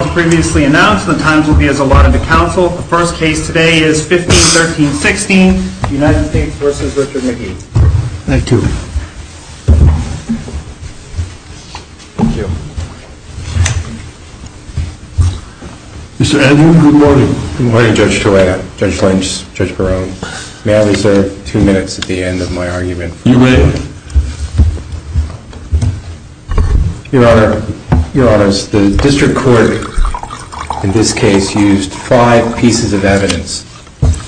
As previously announced, the times will be as allotted to counsel. The first case today is 15-13-16, United States v. Richard Magee. Thank you. Mr. Andrew, good morning. Good morning, Judge Toretto, Judge Lynch, Judge Barone. May I reserve two minutes at the end of my argument? You may. Your Honor, the district court in this case used five pieces of evidence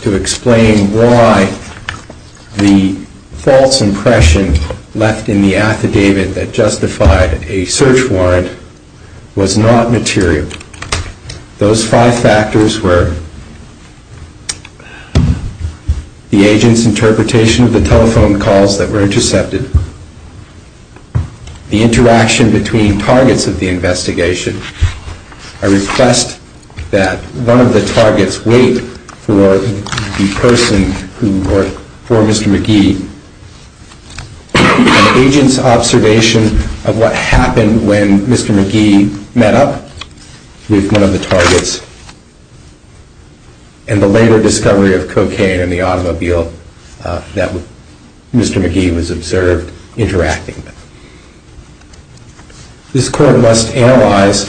to explain why the false impression left in the affidavit that justified a search warrant was not material. Those five factors were the agent's interpretation of the telephone calls that were intercepted, the interaction between targets of the investigation. I request that one of the targets wait for the person who worked for Mr. Magee, an agent's observation of what happened when Mr. Magee met up with one of the targets, and the later discovery of cocaine in the automobile that Mr. Magee was observed interacting with. This court must analyze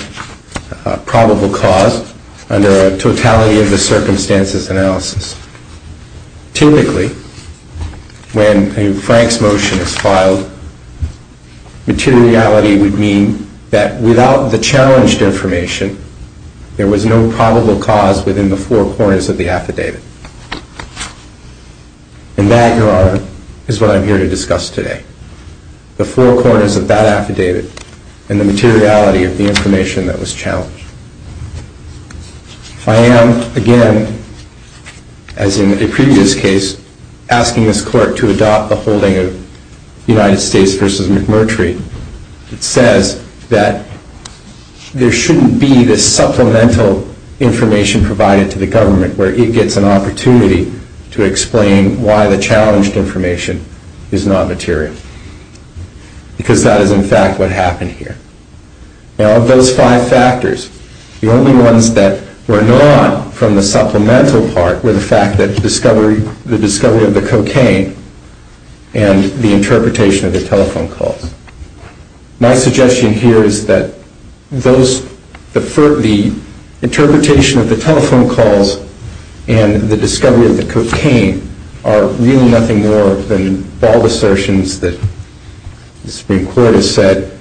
probable cause under a totality of the circumstances analysis. Typically, when a Frank's motion is filed, materiality would mean that without the challenged information, there was no probable cause within the four corners of the affidavit. And that, Your Honor, is what I'm here to discuss today. The four corners of that affidavit and the materiality of the information that was challenged. I am, again, as in a previous case, asking this court to adopt the holding of United States v. McMurtry. It says that there shouldn't be this supplemental information provided to the government where it gets an opportunity to explain why the challenged information is not material. Because that is, in fact, what happened here. Now, of those five factors, the only ones that were not from the supplemental part were the fact that the discovery of the cocaine and the interpretation of the telephone calls. My suggestion here is that the interpretation of the telephone calls and the discovery of the cocaine are really nothing more than bold assertions that the Supreme Court has said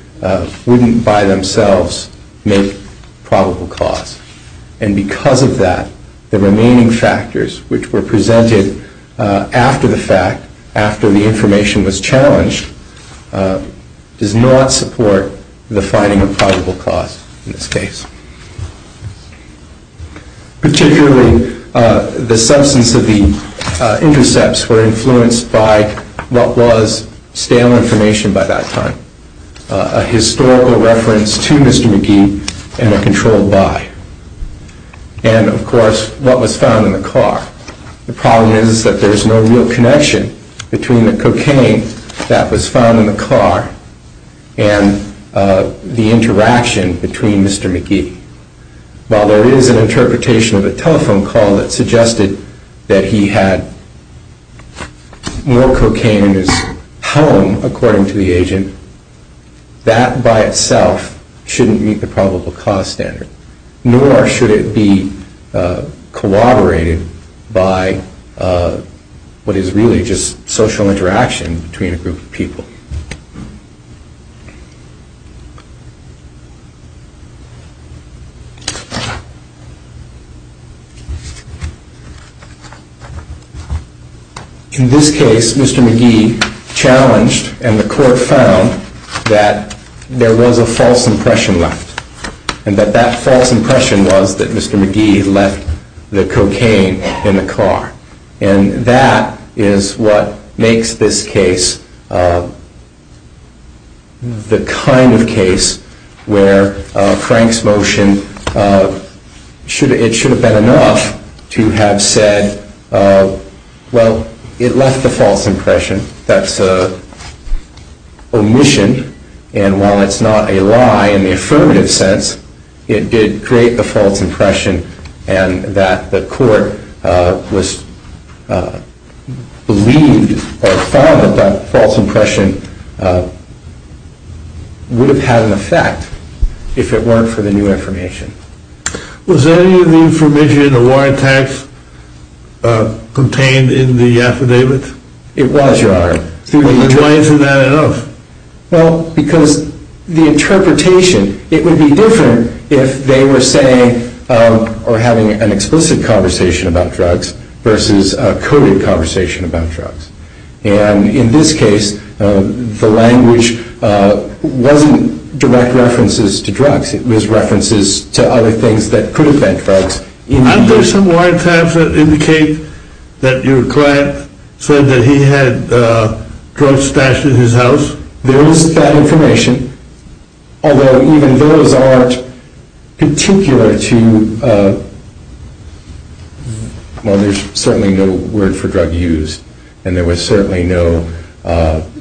wouldn't by themselves make probable cause. And because of that, the remaining factors which were presented after the fact, after the information was challenged, does not support the finding of probable cause in this case. Particularly, the substance of the intercepts were influenced by what was stale information by that time. A historical reference to Mr. McGee and a controlled buy. And, of course, what was found in the car. The problem is that there is no real connection between the cocaine that was found in the car and the interaction between Mr. McGee. While there is an interpretation of a telephone call that suggested that he had more cocaine in his home, according to the agent, that by itself shouldn't meet the probable cause standard. Nor should it be corroborated by what is really just social interaction between a group of people. In this case, Mr. McGee challenged, and the court found, that there was a false impression left. And that that false impression was that Mr. McGee left the cocaine in the car. And that is what makes this case the kind of case where Frank's motion, it should have been enough to have said, well, it left the false impression. That's an omission. And while it's not a lie in the affirmative sense, it did create the false impression. And that the court was believed or found that that false impression would have had an effect if it weren't for the new information. Was any of the information in the wiretaps contained in the affidavit? It was, Your Honor. And why isn't that enough? Well, because the interpretation, it would be different if they were saying or having an explicit conversation about drugs versus a coded conversation about drugs. And in this case, the language wasn't direct references to drugs. It was references to other things that could have been drugs. Aren't there some wiretaps that indicate that your client said that he had drugs stashed in his house? There is that information. Although even those aren't particular to, well, there's certainly no word for drug use. And there was certainly no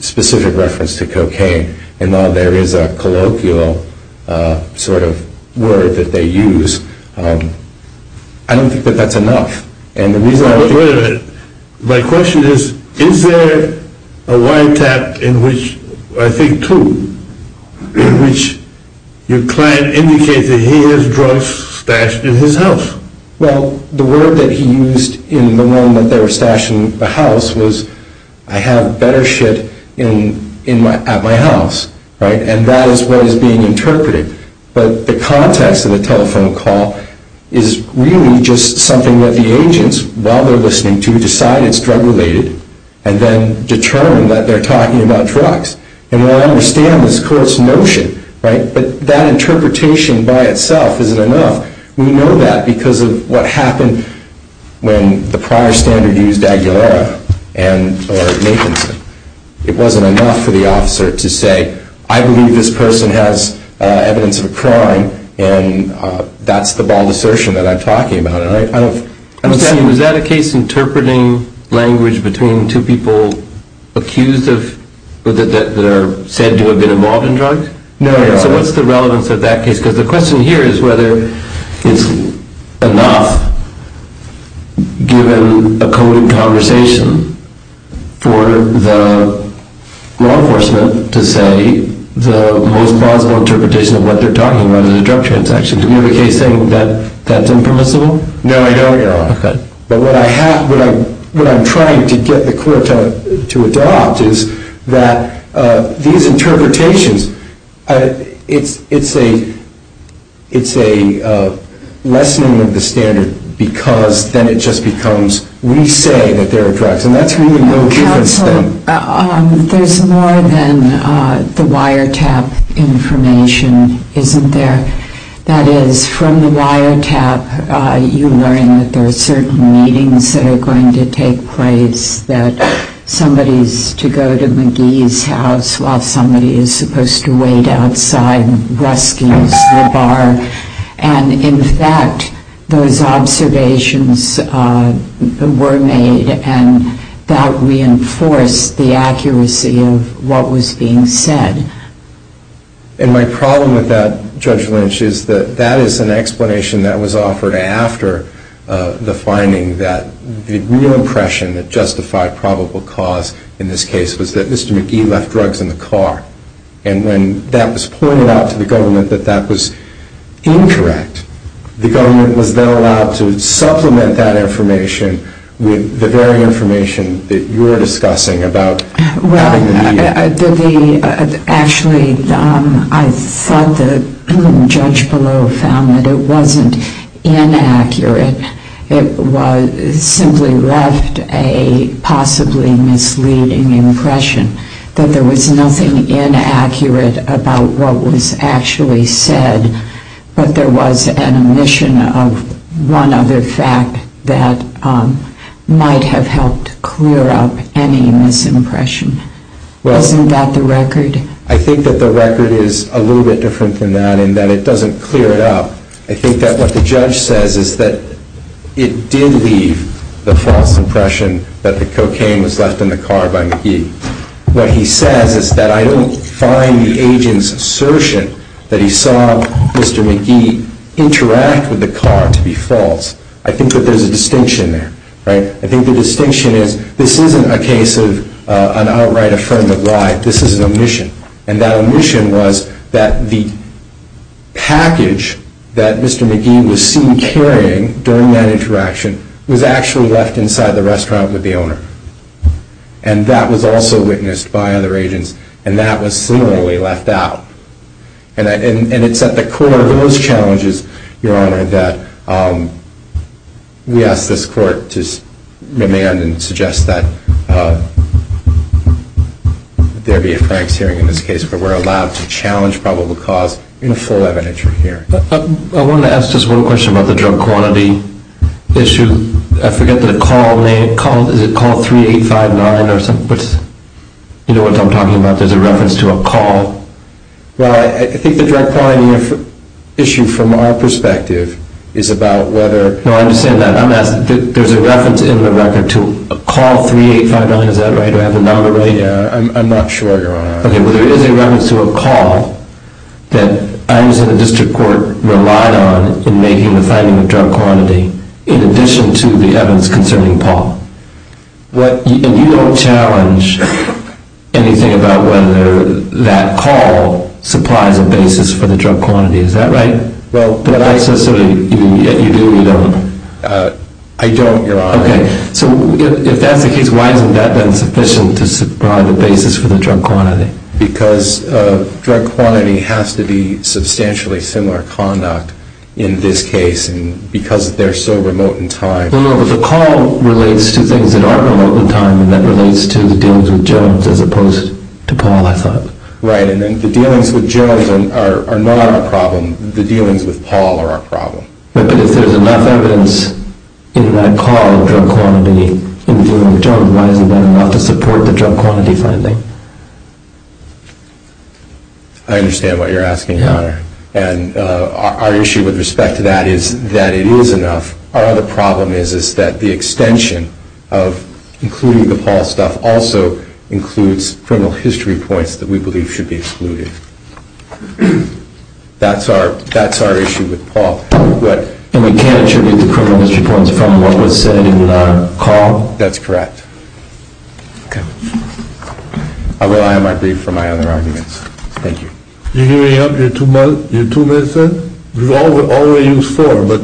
specific reference to cocaine. And now there is a colloquial sort of word that they use. I don't think that that's enough. And the reason I think... Wait a minute. My question is, is there a wiretap in which, I think two, in which your client indicates that he has drugs stashed in his house? Well, the word that he used in the room that they were stashing the house was, I have better shit at my house. And that is what is being interpreted. But the context of the telephone call is really just something that the agents, while they're listening to, decide it's drug-related and then determine that they're talking about drugs. And I understand this coarse notion. But that interpretation by itself isn't enough. We know that because of what happened when the prior standard used Aguilera or Nathanson. It wasn't enough for the officer to say, I believe this person has evidence of a crime. And that's the bald assertion that I'm talking about. Was that a case interpreting language between two people accused of, that are said to have been involved in drugs? No. So what's the relevance of that case? Because the question here is whether it's enough, given a coded conversation, for the law enforcement to say the most plausible interpretation of what they're talking about is a drug transaction. Do you have a case saying that that's impermissible? No, I don't, Your Honor. OK. But what I'm trying to get the court to adopt is that these interpretations, it's a lessening of the standard because then it just becomes, we say that there are drugs. And that's really no difference then. Counsel, there's more than the wiretap information, isn't there? That is, from the wiretap, you learn that there are certain meetings that are going to take place, that somebody's to go to McGee's house while somebody is supposed to wait outside Ruski's, the bar. And in fact, those observations were made and that reinforced the accuracy of what was being said. And my problem with that, Judge Lynch, is that that is an explanation that was offered after the finding that the real impression that justified probable cause in this case was that Mr. McGee left drugs in the car. And when that was pointed out to the government that that was incorrect, the government was then allowed to supplement that information with the very information that you were discussing about having the media. Actually, I thought the judge below found that it wasn't inaccurate. It simply left a possibly misleading impression that there was nothing inaccurate about what was actually said. But there was an omission of one other fact that might have helped clear up any misimpression. Wasn't that the record? I think that the record is a little bit different than that in that it doesn't clear it up. I think that what the judge says is that it did leave the false impression that the cocaine was left in the car by McGee. What he says is that I don't find the agent's assertion that he saw Mr. McGee interact with the car to be false. I think that there's a distinction there. I think the distinction is this isn't a case of an outright affirmative lie. This is an omission. And that omission was that the package that Mr. McGee was seen carrying during that interaction was actually left inside the restaurant with the owner. And that was also witnessed by other agents and that was similarly left out. And it's at the core of those challenges, Your Honor, that we ask this court to demand and suggest that there be a Frank's hearing in this case where we're allowed to challenge probable cause in a full evidentiary hearing. I wanted to ask just one question about the drug quantity issue. I forget the call name. Is it call 3859 or something? You know what I'm talking about. There's a reference to a call. Well, I think the drug quantity issue from our perspective is about whether— No, I understand that. There's a reference in the record to a call 3859. Is that right? Do I have the number right? Yeah. I'm not sure, Your Honor. Okay. Well, there is a reference to a call that I was in the district court relied on in making the finding of drug quantity in addition to the evidence concerning Paul. And you don't challenge anything about whether that call supplies a basis for the drug quantity. Is that right? Well, but I— You do or you don't? I don't, Your Honor. Okay. So if that's the case, why hasn't that been sufficient to provide a basis for the drug quantity? Because drug quantity has to be substantially similar conduct in this case. And because they're so remote in time— No, no. But the call relates to things that are remote in time, and that relates to the dealings with Gerald as opposed to Paul, I thought. Right. And then the dealings with Gerald are not our problem. The dealings with Paul are our problem. But if there's enough evidence in that call of drug quantity in the dealings with Gerald, why isn't that enough to support the drug quantity finding? I understand what you're asking, Your Honor. And our issue with respect to that is that it is enough. Our other problem is that the extension of including the Paul stuff also includes criminal history points that we believe should be excluded. That's our issue with Paul. And we can't attribute the criminal history points from what was said in the call? That's correct. Okay. Although I have my brief for my other arguments. Thank you. Do you have your two minutes, sir? We've already used four, but—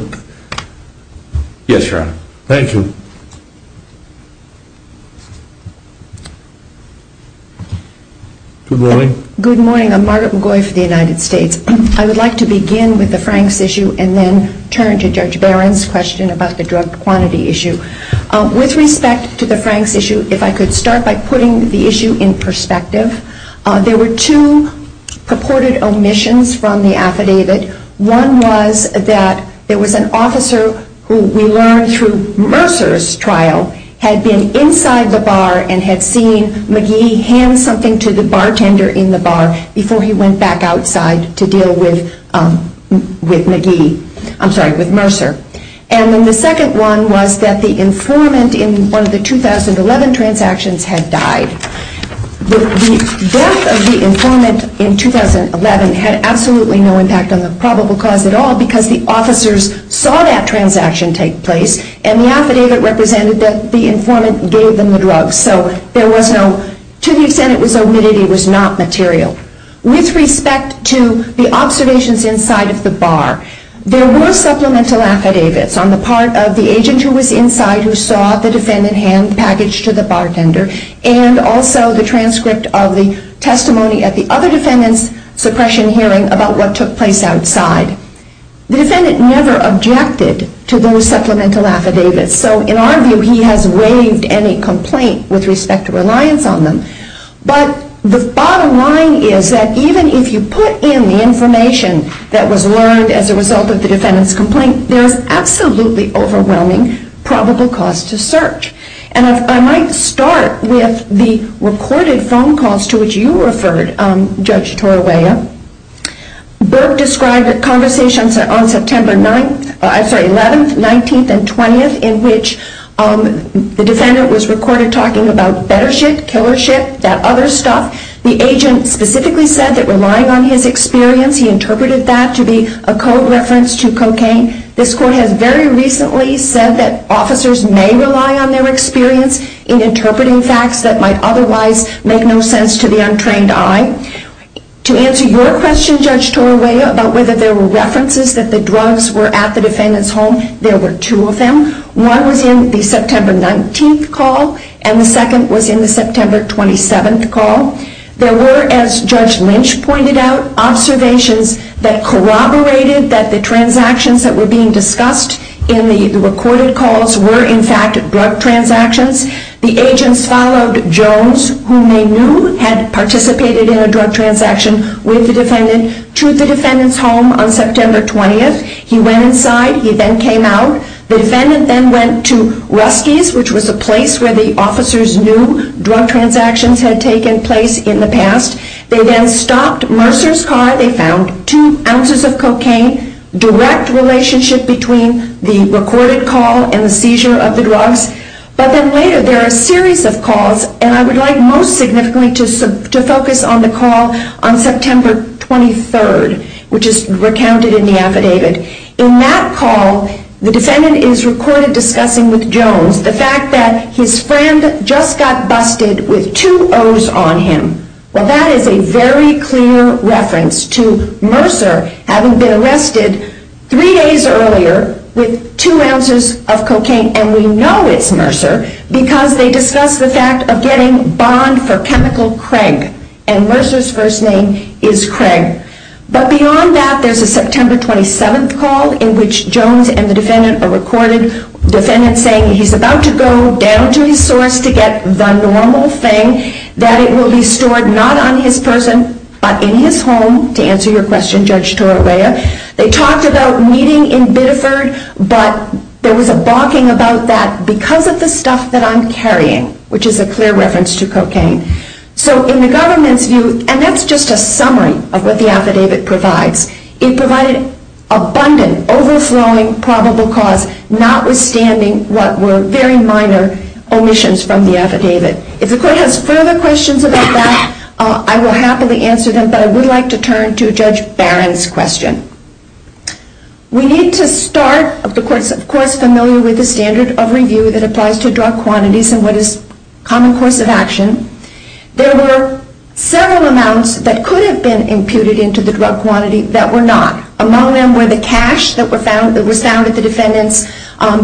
Yes, Your Honor. Thank you. Good morning. Good morning. I'm Margaret McGoy for the United States. I would like to begin with the Franks issue and then turn to Judge Barron's question about the drug quantity issue. With respect to the Franks issue, if I could start by putting the issue in perspective, there were two purported omissions from the affidavit. One was that there was an officer who we learned through Mercer's trial had been inside the bar and had seen McGee hand something to the bartender in the bar before he went back outside to deal with McGee. I'm sorry, with Mercer. And then the second one was that the informant in one of the 2011 transactions had died. The death of the informant in 2011 had absolutely no impact on the probable cause at all because the officers saw that transaction take place and the affidavit represented that the informant gave them the drugs. So there was no—to the extent it was omitted, it was not material. With respect to the observations inside of the bar, there were supplemental affidavits on the part of the agent who was inside who saw the defendant hand the package to the bartender and also the transcript of the testimony at the other defendant's suppression hearing about what took place outside. The defendant never objected to those supplemental affidavits. So in our view, he has waived any complaint with respect to reliance on them. But the bottom line is that even if you put in the information that was learned as a result of the defendant's complaint, there's absolutely overwhelming probable cause to search. And I might start with the recorded phone calls to which you referred, Judge Torawaya. Burke described conversations on September 11th, 19th, and 20th in which the defendant was recorded talking about bettership, killership, that other stuff. The agent specifically said that relying on his experience, he interpreted that to be a code reference to cocaine. This court has very recently said that officers may rely on their experience in interpreting facts that might otherwise make no sense to the untrained eye. To answer your question, Judge Torawaya, about whether there were references that the drugs were at the defendant's home, there were two of them. One was in the September 19th call, and the second was in the September 27th call. There were, as Judge Lynch pointed out, observations that corroborated that the transactions that were being discussed in the recorded calls were in fact drug transactions. The agents followed Jones, whom they knew had participated in a drug transaction with the defendant, to the defendant's home on September 20th. He went inside. He then came out. The defendant then went to Rusky's, which was a place where the officers knew drug transactions had taken place in the past. They then stopped Mercer's car. They found two ounces of cocaine, direct relationship between the recorded call and the seizure of the drugs. But then later, there are a series of calls, and I would like most significantly to focus on the call on September 23rd, which is recounted in the affidavit. In that call, the defendant is recorded discussing with Jones the fact that his friend just got busted with two O's on him. Well, that is a very clear reference to Mercer having been arrested three days earlier with two ounces of cocaine, and we know it's Mercer, because they discuss the fact of getting bond for chemical Craig, and Mercer's first name is Craig. But beyond that, there's a September 27th call in which Jones and the defendant are recorded, the defendant saying he's about to go down to his source to get the normal thing, that it will be stored not on his person, but in his home, to answer your question, Judge Torreya. They talked about meeting in Biddeford, but there was a balking about that because of the stuff that I'm carrying, which is a clear reference to cocaine. So in the government's view, and that's just a summary of what the affidavit provides, it provided abundant, overflowing probable cause, notwithstanding what were very minor omissions from the affidavit. If the court has further questions about that, I will happily answer them, but I would like to turn to Judge Barron's question. We need to start, the court is of course familiar with the standard of review that applies to drug quantities and what is common course of action. There were several amounts that could have been imputed into the drug quantity that were not. Among them were the cash that was found at the defendant's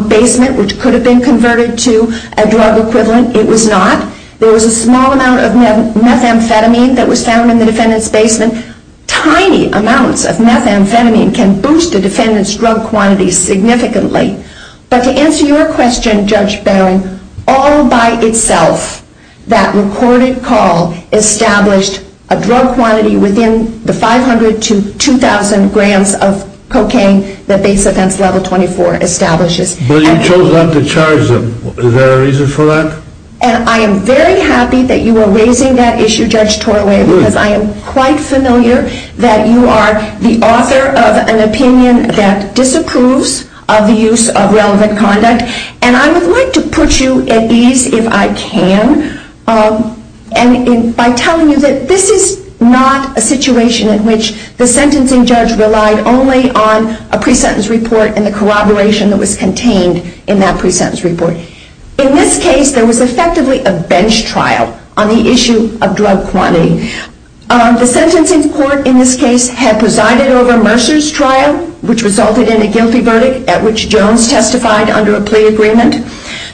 basement, which could have been converted to a drug equivalent. It was not. There was a small amount of methamphetamine that was found in the defendant's basement. Tiny amounts of methamphetamine can boost a defendant's drug quantity significantly. But to answer your question, Judge Barron, all by itself, that recorded call established a drug quantity within the 500 to 2,000 grams of cocaine that Base Offense Level 24 establishes. But you chose not to charge them. Is there a reason for that? And I am very happy that you are raising that issue, Judge Torway, because I am quite familiar that you are the author of an opinion that disapproves of the use of relevant conduct. And I would like to put you at ease, if I can, by telling you that this is not a situation in which the sentencing judge relied only on a pre-sentence report and the corroboration that was contained in that pre-sentence report. In this case, there was effectively a bench trial on the issue of drug quantity. The sentencing court in this case had presided over Mercer's trial, which resulted in a guilty verdict, at which Jones testified under a plea agreement.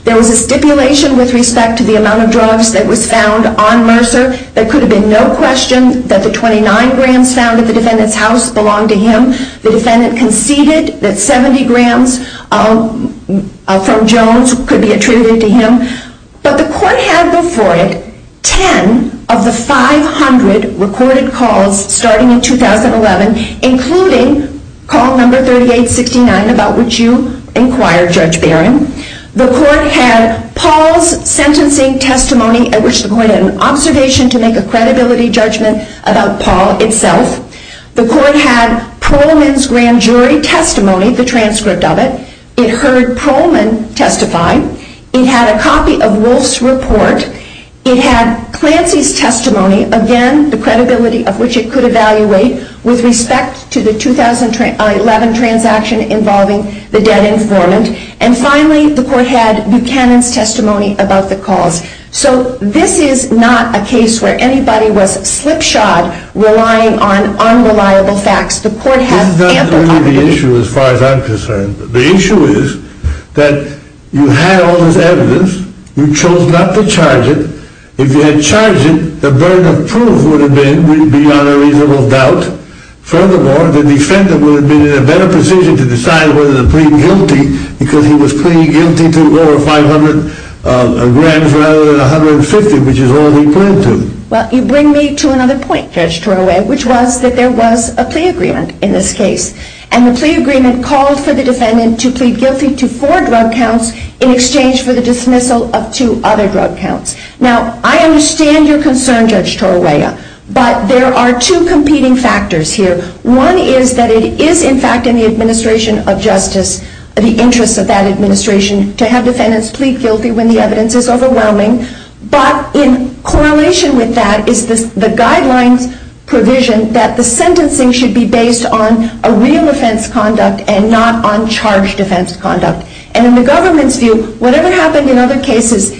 There was a stipulation with respect to the amount of drugs that was found on Mercer. There could have been no question that the 29 grams found at the defendant's house belonged to him. The defendant conceded that 70 grams from Jones could be attributed to him. But the court had before it 10 of the 500 recorded calls starting in 2011, including call number 3869, about which you inquired, Judge Barron. The court had Paul's sentencing testimony, at which the court had an observation to make a credibility judgment about Paul itself. The court had Proleman's grand jury testimony, the transcript of it. It heard Proleman testify. It had a copy of Wolf's report. It had Clancy's testimony, again, the credibility of which it could evaluate with respect to the 2011 transaction involving the dead informant. And finally, the court had Buchanan's testimony about the cause. So this is not a case where anybody was slipshod relying on unreliable facts. The court has ample confidence. This is not really the issue as far as I'm concerned. The issue is that you had all this evidence. You chose not to charge it. If you had charged it, the burden of proof would have been beyond a reasonable doubt. Furthermore, the defendant would have been in a better position to decide whether to plead guilty because he was pleading guilty to over $500,000 rather than $150,000, which is all he pled to. Well, you bring me to another point, Judge Torrella, which was that there was a plea agreement in this case. And the plea agreement called for the defendant to plead guilty to four drug counts in exchange for the dismissal of two other drug counts. Now, I understand your concern, Judge Torrella, but there are two competing factors here. One is that it is, in fact, in the administration of justice, the interests of that administration, to have defendants plead guilty when the evidence is overwhelming. But in correlation with that is the guidelines provision that the sentencing should be based on a real offense conduct and not on charged offense conduct. And in the government's view, whatever happened in other cases,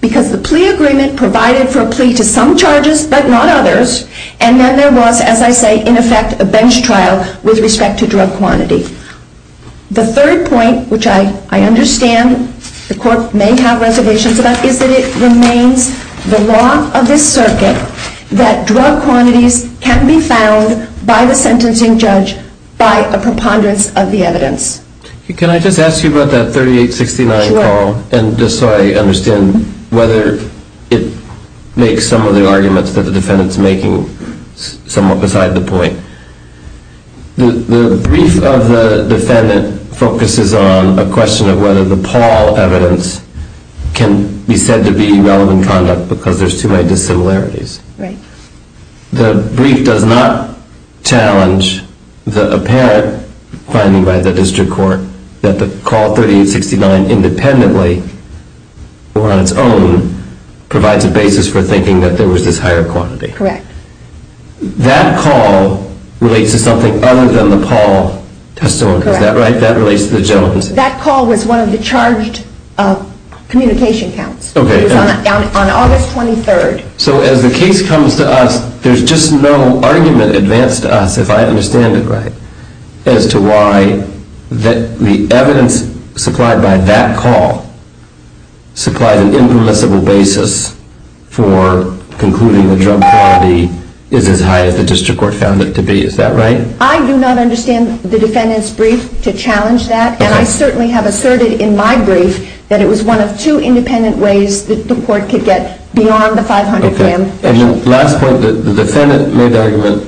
because the plea agreement provided for a plea to some charges but not others, and then there was, as I say, in effect, a bench trial with respect to drug quantity. The third point, which I understand the court may have reservations about, is that it remains the law of this circuit that drug quantities can be found by the sentencing judge by a preponderance of the evidence. Can I just ask you about that 3869 Paul? Sure. And just so I understand whether it makes some of the arguments that the defendant's making somewhat beside the point. The brief of the defendant focuses on a question of whether the Paul evidence can be said to be relevant conduct because there's too many dissimilarities. Right. The brief does not challenge the apparent finding by the district court that the call 3869 independently or on its own provides a basis for thinking that there was this higher quantity. Correct. That call relates to something other than the Paul testimony. Is that right? That relates to the Jones. That call was one of the charged communication counts. Okay. It was on August 23rd. So as the case comes to us, there's just no argument advanced to us, if I understand it right, as to why the evidence supplied by that call supplied an impermissible basis for concluding the drug quality is as high as the district court found it to be. Is that right? I do not understand the defendant's brief to challenge that, and I certainly have asserted in my brief that it was one of two independent ways that the court could get beyond the 500-gram threshold. Okay. And the last point, the defendant made the argument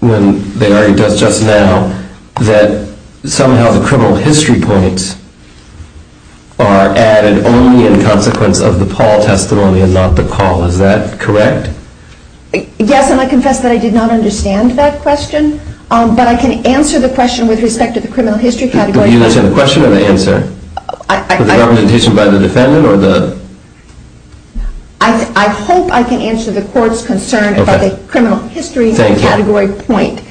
when they argued just now that somehow the criminal history points are added only in consequence of the Paul testimony and not the call. Is that correct? Yes, and I confess that I did not understand that question, but I can answer the question with respect to the criminal history category. Do you understand the question or the answer? The argumentation by the defendant? I hope I can answer the court's concern about the criminal history category point.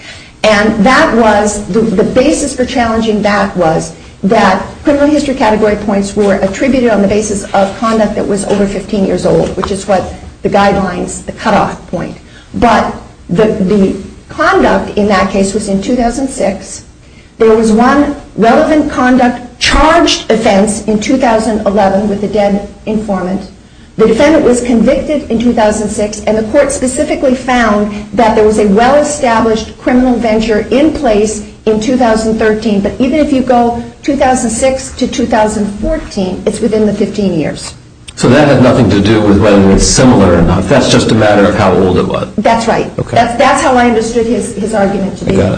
And the basis for challenging that was that criminal history category points were attributed on the basis of conduct that was over 15 years old, which is what the guidelines, the cutoff point. But the conduct in that case was in 2006. There was one relevant conduct charged offense in 2011 with a dead informant. The defendant was convicted in 2006, and the court specifically found that there was a well-established criminal venture in place in 2013. But even if you go 2006 to 2014, it's within the 15 years. So that had nothing to do with whether it was similar or not. That's just a matter of how old it was. That's right. That's how I understood his argument today.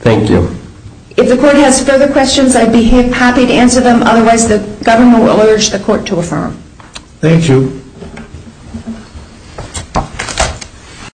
Thank you. If the court has further questions, I'd be happy to answer them. Otherwise, the government will urge the court to affirm. Thank you.